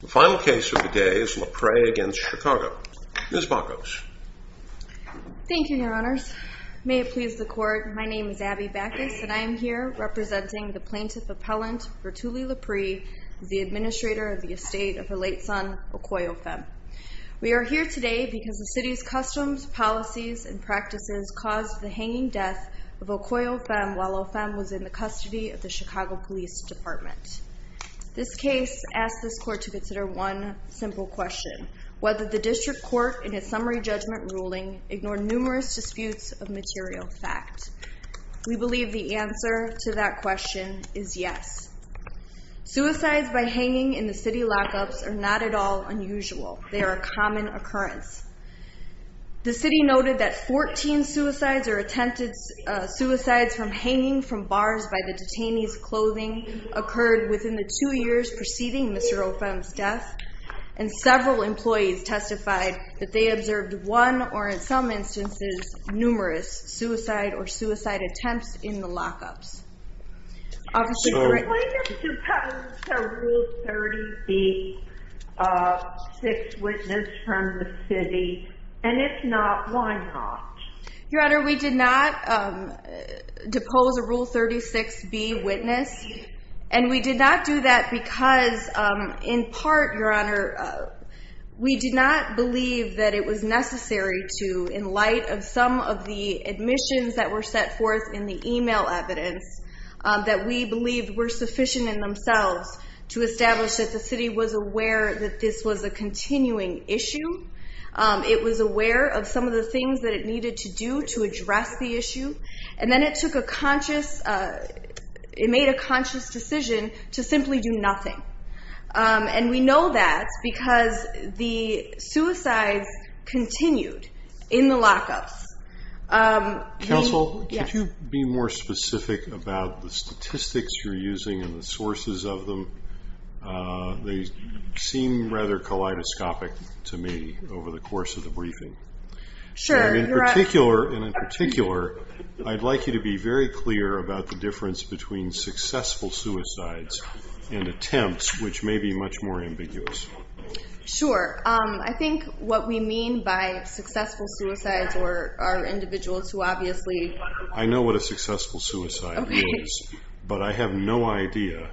The final case of the day is Lapre v. Chicago. Ms. Bacos. Thank you, your honors. May it please the court, my name is Abby Bacos and I am here representing the plaintiff appellant Vertulie Lapre, the administrator of the estate of her late son, Okoye Ophem. We are here today because the city's customs, policies, and practices caused the hanging death of Okoye Ophem while Ophem was in the custody of the Chicago Police Department. This case asks this court to consider one simple question. Whether the district court in its summary judgment ruling ignored numerous disputes of material fact. We believe the answer to that question is yes. Suicides by hanging in the city lockups are not at all unusual. They are a common occurrence. The city noted that 14 suicides or attempted suicides from hanging from bars by the detainee's clothing occurred within the two years preceding Mr. Ophem's death. And several employees testified that they observed one or in some instances numerous suicide or suicide attempts in the lockups. Did the plaintiff depose a Rule 36B witness from the city? And if not, why not? Your Honor, we did not depose a Rule 36B witness. And we did not do that because in part, Your Honor, we did not believe that it was necessary to in light of some of the admissions that were set forth in the email evidence that we believed were sufficient in themselves to establish that the city was aware that this was a continuing issue. It was aware of some of the things that it needed to do to address the issue. And then it took a conscious, it made a conscious decision to simply do nothing. And we know that because the suicides continued in the lockups. Counsel, could you be more specific about the statistics you're using and the sources of them? They seem rather kaleidoscopic to me over the course of the briefing. Sure. And in particular, I'd like you to be very clear about the difference between successful suicides and attempts, which may be much more ambiguous. Sure. I think what we mean by successful suicides are individuals who obviously I know what a successful suicide means, but I have no idea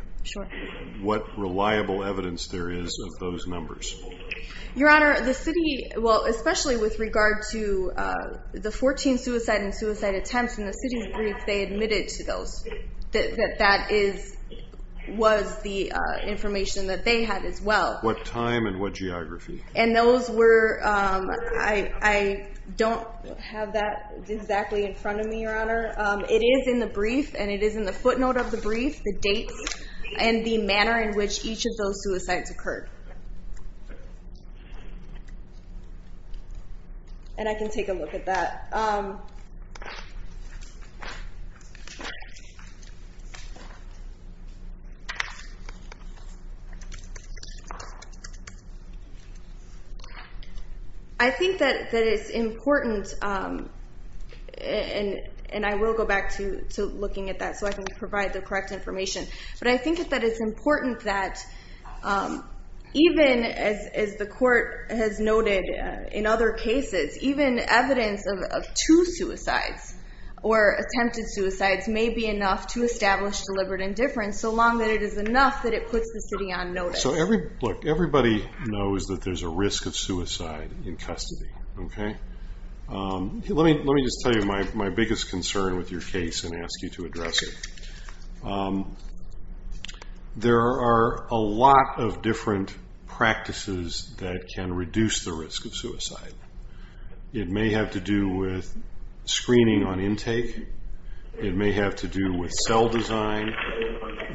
what reliable evidence there is of those numbers. Your Honor, the city, well, especially with regard to the 14 suicide and suicide attempts in the city's brief, that that was the information that they had as well. What time and what geography? And those were, I don't have that exactly in front of me, Your Honor. It is in the brief, and it is in the footnote of the brief, the dates, and the manner in which each of those suicides occurred. And I can take a look at that. I think that it's important, and I will go back to looking at that so I can provide the correct information, but I think that it's important that even, as the court has noted in other cases, even evidence of two suicides or attempted suicides may be enough to establish deliberate indifference, so long that it is enough that it puts the city on notice. Look, everybody knows that there's a risk of suicide in custody, okay? Let me just tell you my biggest concern with your case and ask you to address it. There are a lot of different practices that can reduce the risk of suicide. It may have to do with screening on intake. It may have to do with cell design.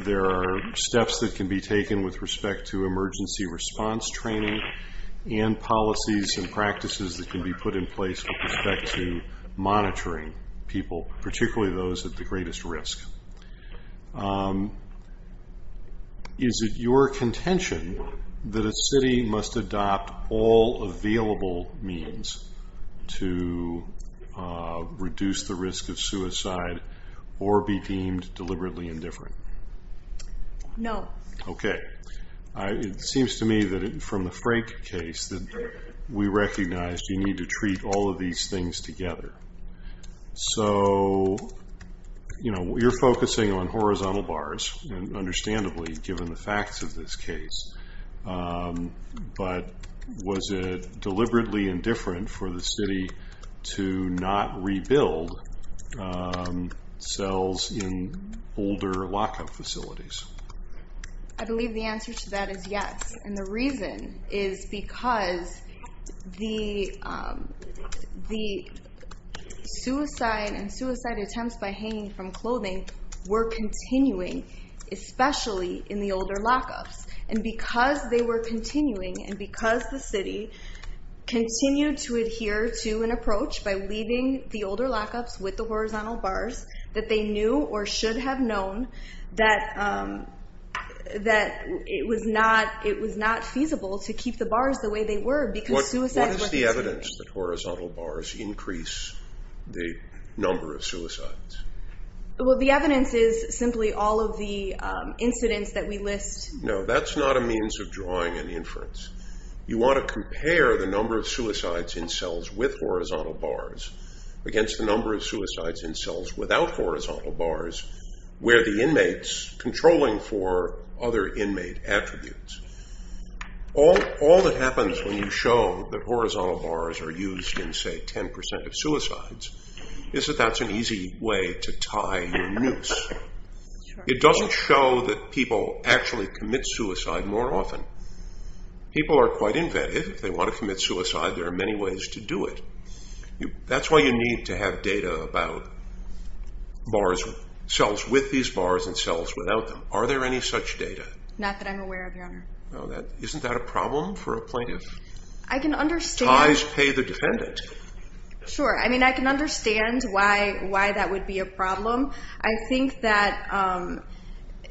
There are steps that can be taken with respect to emergency response training and policies and practices that can be put in place with respect to monitoring people, particularly those at the greatest risk. Is it your contention that a city must adopt all available means to reduce the risk of suicide or be deemed deliberately indifferent? No. Okay. It seems to me that from the Frank case that we recognize you need to treat all of these things together. So, you know, you're focusing on horizontal bars, understandably, given the facts of this case, but was it deliberately indifferent for the city to not rebuild cells in older lock-up facilities? I believe the answer to that is yes, and the reason is because the suicide and suicide attempts by hanging from clothing were continuing, especially in the older lock-ups. And because they were continuing, and because the city continued to adhere to an approach by leaving the older lock-ups with the horizontal bars, that they knew or should have known that it was not feasible to keep the bars the way they were because suicide wasn't seen. What is the evidence that horizontal bars increase the number of suicides? Well, the evidence is simply all of the incidents that we list. No, that's not a means of drawing an inference. You want to compare the number of suicides in cells with horizontal bars against the number of suicides in cells without horizontal bars, where the inmates controlling for other inmate attributes. All that happens when you show that horizontal bars are used in, say, 10% of suicides, it doesn't show that people actually commit suicide more often. People are quite inventive. If they want to commit suicide, there are many ways to do it. That's why you need to have data about cells with these bars and cells without them. Are there any such data? Not that I'm aware of, Your Honor. Isn't that a problem for a plaintiff? I can understand. Ties pay the defendant. Sure. I mean, I can understand why that would be a problem. I think that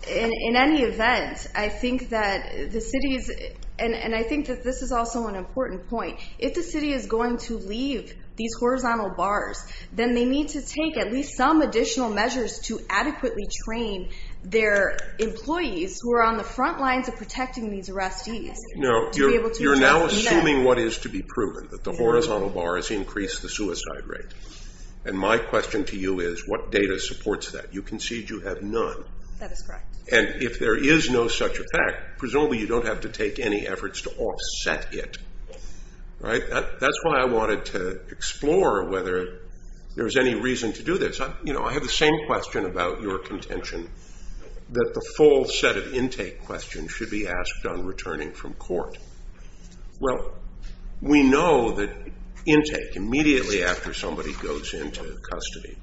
in any event, I think that the city is, and I think that this is also an important point, if the city is going to leave these horizontal bars, then they need to take at least some additional measures to adequately train their employees who are on the front lines of protecting these arrestees. No, you're now assuming what is to be proven, that the horizontal bars increase the suicide rate. And my question to you is, what data supports that? You concede you have none. That is correct. And if there is no such effect, presumably you don't have to take any efforts to offset it. Right? That's why I wanted to explore whether there was any reason to do this. You know, I have the same question about your contention, that the full set of intake questions should be asked on returning from court. Well, we know that intake, immediately after somebody goes into custody,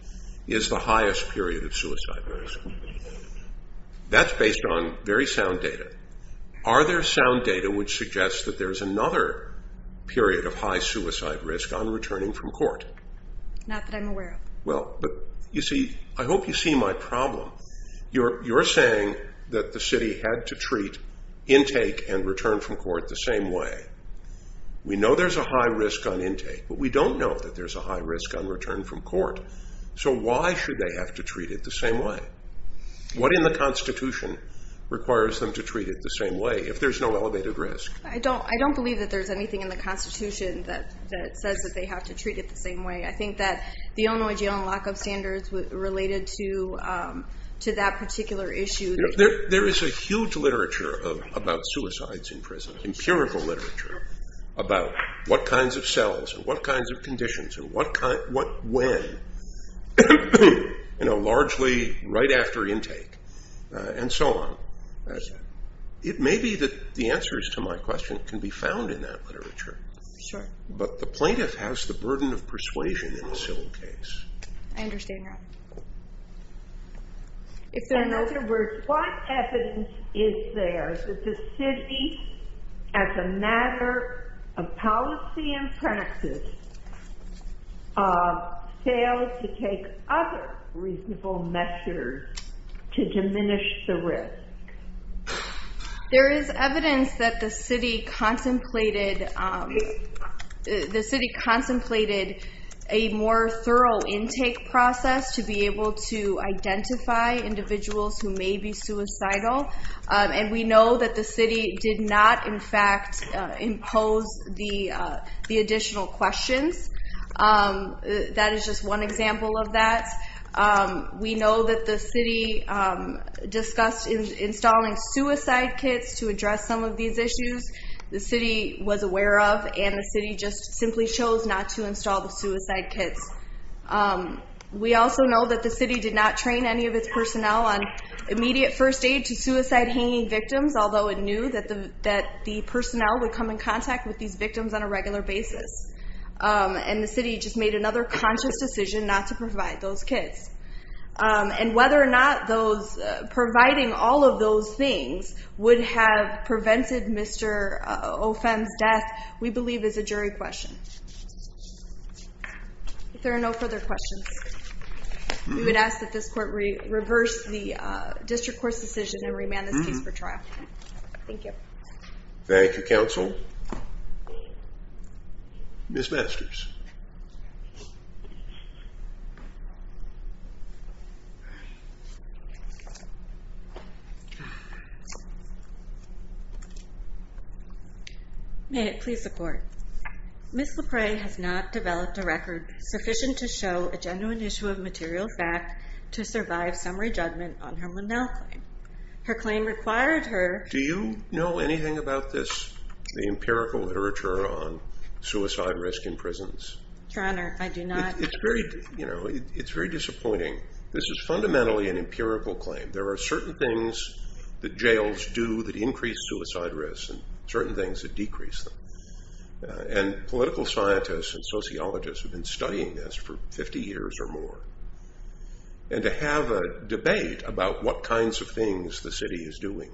is the highest period of suicide risk. That's based on very sound data. Are there sound data which suggests that there's another period of high suicide risk on returning from court? Not that I'm aware of. Well, but you see, I hope you see my problem. You're saying that the city had to treat intake and return from court the same way. We know there's a high risk on intake, but we don't know that there's a high risk on return from court. So why should they have to treat it the same way? What in the Constitution requires them to treat it the same way, if there's no elevated risk? I don't believe that there's anything in the Constitution that says that they have to treat it the same way. I think that the Illinois jail and lock-up standards related to that particular issue. There is a huge literature about suicides in prison, empirical literature, about what kinds of cells and what kinds of conditions and when, largely right after intake and so on. It may be that the answers to my question can be found in that literature. Sure. But the plaintiff has the burden of persuasion in a civil case. I understand that. If there are no other words, what evidence is there that the city, as a matter of policy and practice, failed to take other reasonable measures to diminish the risk? There is evidence that the city contemplated a more thorough intake process to be able to identify individuals who may be suicidal. And we know that the city did not, in fact, impose the additional questions. That is just one example of that. We know that the city discussed installing suicide kits to address some of these issues. The city was aware of, and the city just simply chose not to install the suicide kits. We also know that the city did not train any of its personnel on immediate first aid to suicide-hanging victims, although it knew that the personnel would come in contact with these victims on a regular basis. And the city just made another conscious decision not to provide those kits. And whether or not providing all of those things would have prevented Mr. Opham's death, we believe is a jury question. If there are no further questions, we would ask that this court reverse the district court's decision and remand this case for trial. Thank you. Thank you, counsel. Ms. Masters. May it please the court. Ms. LePray has not developed a record sufficient to show a genuine issue of material fact to survive summary judgment on her Lindell claim. Her claim required her... Do you know anything about this, the empirical literature on suicide risk in prisons? Your Honor, I do not. It's very disappointing. This is fundamentally an empirical claim. There are certain things that jails do that increase suicide risk and certain things that decrease them. And political scientists and sociologists have been studying this for 50 years or more. And to have a debate about what kinds of things the city is doing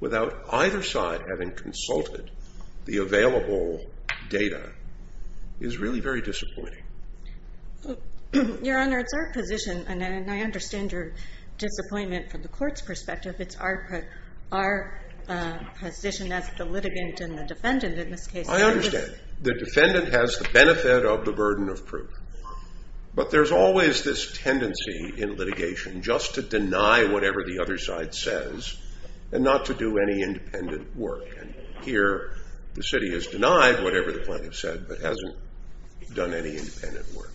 without either side having consulted the available data is really very disappointing. Your Honor, it's our position, and I understand your disappointment from the court's perspective, it's our position as the litigant and the defendant in this case. I understand. The defendant has the benefit of the burden of proof. But there's always this tendency in litigation just to deny whatever the other side says and not to do any independent work. And here the city has denied whatever the plaintiff said but hasn't done any independent work.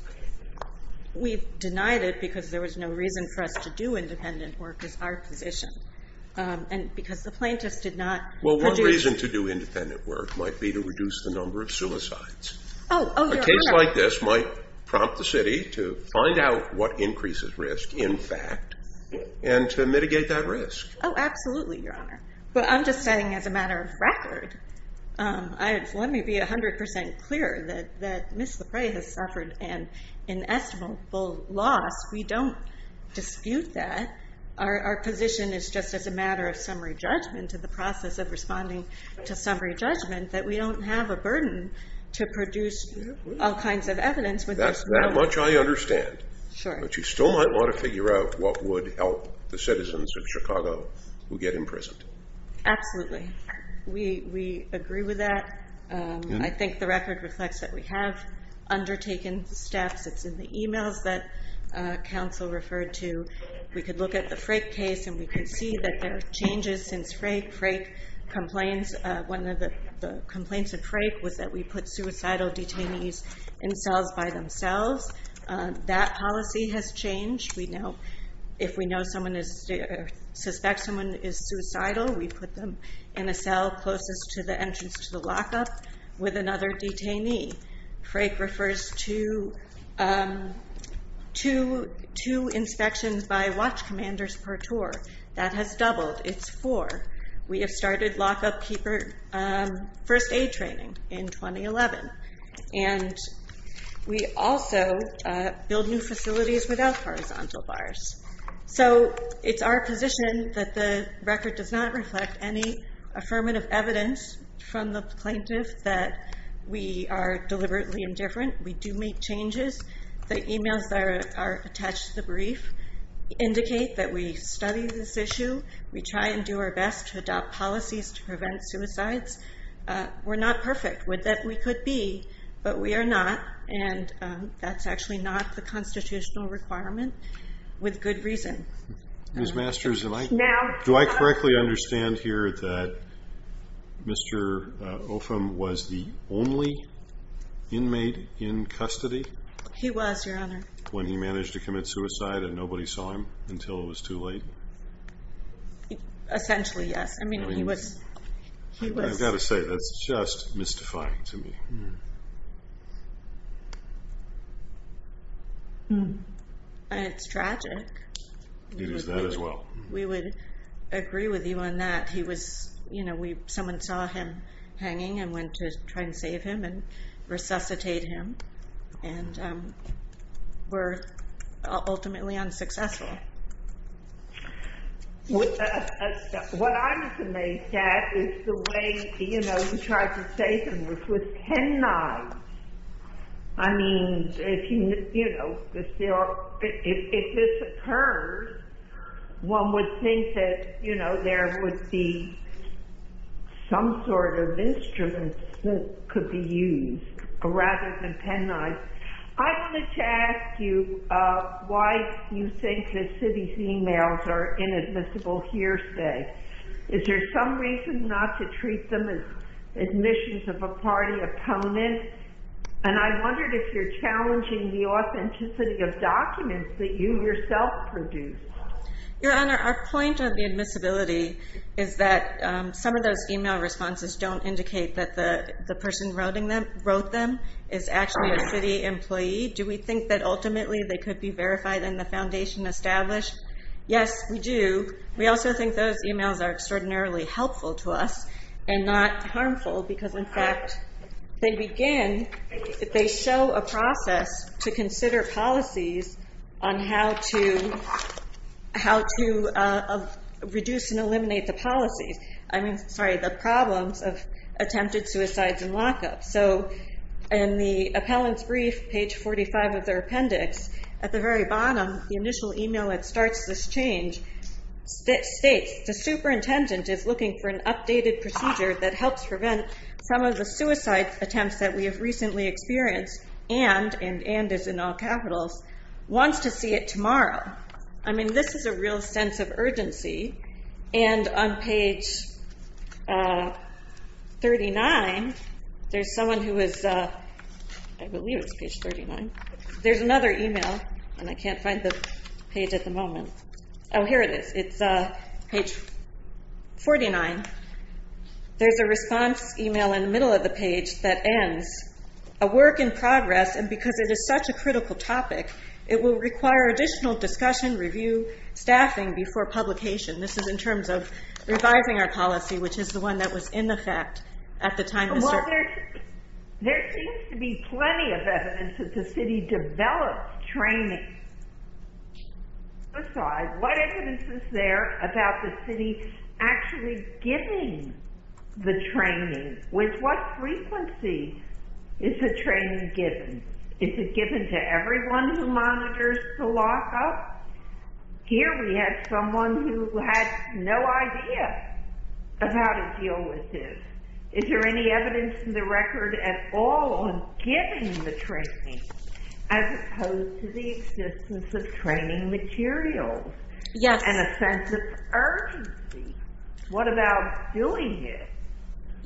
We've denied it because there was no reason for us to do independent work is our position. And because the plaintiff did not produce... Well, one reason to do independent work might be to reduce the number of suicides. Oh, Your Honor. A case like this might prompt the city to find out what increases risk in fact and to mitigate that risk. Oh, absolutely, Your Honor. But I'm just saying as a matter of record, let me be 100% clear that Ms. LePray has suffered an inestimable loss. We don't dispute that. Our position is just as a matter of summary judgment to the process of responding to summary judgment that we don't have a burden to produce all kinds of evidence. That much I understand. But you still might want to figure out what would help the citizens of Chicago who get imprisoned. Absolutely. We agree with that. I think the record reflects that we have undertaken steps. It's in the e-mails that counsel referred to. We could look at the Frake case and we could see that there are changes since Frake. One of the complaints of Frake was that we put suicidal detainees in cells by themselves. That policy has changed. If we suspect someone is suicidal, we put them in a cell closest to the entrance to the lockup with another detainee. Frake refers to two inspections by watch commanders per tour. That has doubled. It's four. We have started lockup keeper first aid training in 2011. And we also build new facilities without horizontal bars. It's our position that the record does not reflect any affirmative evidence from the plaintiff that we are deliberately indifferent. We do make changes. The e-mails that are attached to the brief indicate that we study this issue. We try and do our best to adopt policies to prevent suicides. We're not perfect. We could be, but we are not, and that's actually not the constitutional requirement. With good reason. Ms. Masters, do I correctly understand here that Mr. Opham was the only inmate in custody? He was, Your Honor. When he managed to commit suicide and nobody saw him until it was too late? Essentially, yes. I've got to say, that's just mystifying to me. It's tragic. It is that as well. We would agree with you on that. He was, you know, someone saw him hanging and went to try and save him and resuscitate him. And were ultimately unsuccessful. What I was amazed at is the way, you know, he tried to save him was with pen knives. I mean, you know, if this occurred, one would think that, you know, there would be some sort of instruments that could be used rather than pen knives. I wanted to ask you why you think that Siddy's emails are inadmissible hearsay. Is there some reason not to treat them as admissions of a party opponent? And I wondered if you're challenging the authenticity of documents that you yourself produced. Your Honor, our point of the admissibility is that some of those email responses don't indicate that the person who wrote them is actually a city employee. Do we think that ultimately they could be verified in the foundation established? Yes, we do. We also think those emails are extraordinarily helpful to us and not harmful because, in fact, they begin, they show a process to consider policies on how to reduce and eliminate the policies. I mean, sorry, the problems of attempted suicides and lockups. So in the appellant's brief, page 45 of their appendix, at the very bottom, the initial email that starts this change states, the superintendent is looking for an updated procedure that helps prevent some of the suicide attempts that we have recently experienced and, and, and is in all capitals, wants to see it tomorrow. I mean, this is a real sense of urgency. And on page 39, there's someone who is, I believe it's page 39. There's another email, and I can't find the page at the moment. Oh, here it is. It's page 49. There's a response email in the middle of the page that ends. A work in progress, and because it is such a critical topic, it will require additional discussion, review, staffing before publication. This is in terms of revising our policy, which is the one that was in effect at the time Mr. Well, there, there seems to be plenty of evidence that the city developed training. Besides, what evidence is there about the city actually giving the training? With what frequency is the training given? Is it given to everyone who monitors the lockup? Here we have someone who had no idea of how to deal with this. Is there any evidence in the record at all on giving the training, as opposed to the existence of training materials? Yes. And a sense of urgency. What about doing it?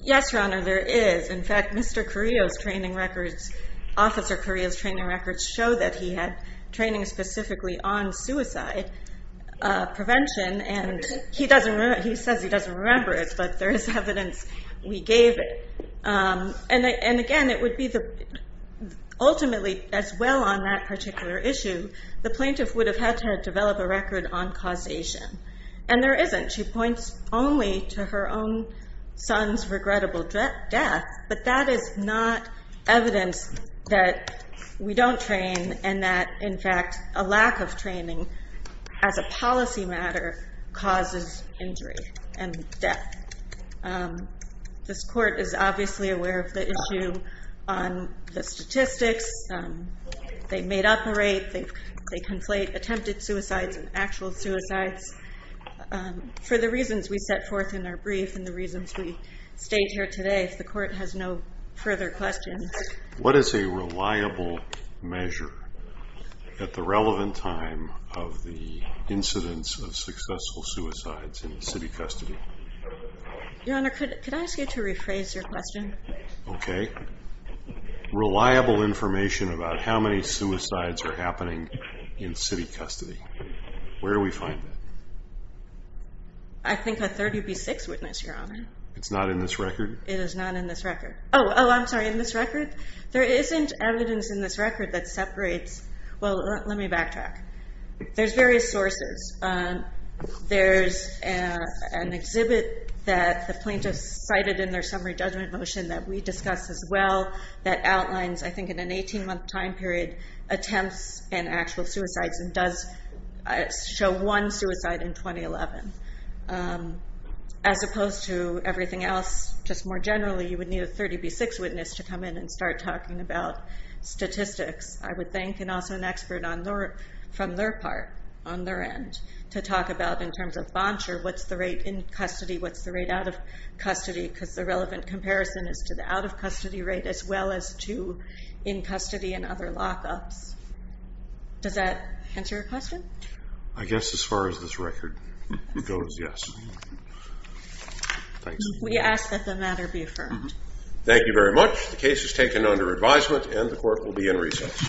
Yes, Your Honor, there is. In fact, Mr. Carrillo's training records, Officer Carrillo's training records show that he had training specifically on suicide prevention. And he doesn't, he says he doesn't remember it, but there is evidence we gave it. And again, it would be the, ultimately, as well on that particular issue, the plaintiff would have had to develop a record on causation. And there isn't. She points only to her own son's regrettable death. But that is not evidence that we don't train and that, in fact, a lack of training as a policy matter causes injury and death. This court is obviously aware of the issue on the statistics. They made up a rate. They conflate attempted suicides and actual suicides. For the reasons we set forth in our brief and the reasons we stayed here today, if the court has no further questions. What is a reliable measure at the relevant time of the incidence of successful suicides in city custody? Your Honor, could I ask you to rephrase your question? Okay. Reliable information about how many suicides are happening in city custody. Where do we find that? I think a 30 v. 6 witness, Your Honor. It's not in this record? It is not in this record. Oh, I'm sorry. In this record? There isn't evidence in this record that separates. Well, let me backtrack. There's various sources. There's an exhibit that the plaintiff cited in their summary judgment motion that we discussed as well that outlines, I think, in an 18-month time period, attempts and actual suicides and does show one suicide in 2011. As opposed to everything else, just more generally, you would need a 30 v. 6 witness to come in and start talking about statistics. I would think, and also an expert from their part, on their end, to talk about, in terms of bond share, what's the rate in custody, what's the rate out of custody because the relevant comparison is to the out-of-custody rate as well as to in custody and other lockups. Does that answer your question? I guess as far as this record goes, yes. Thanks. We ask that the matter be affirmed. Thank you very much. The case is taken under advisement and the court will be in recess.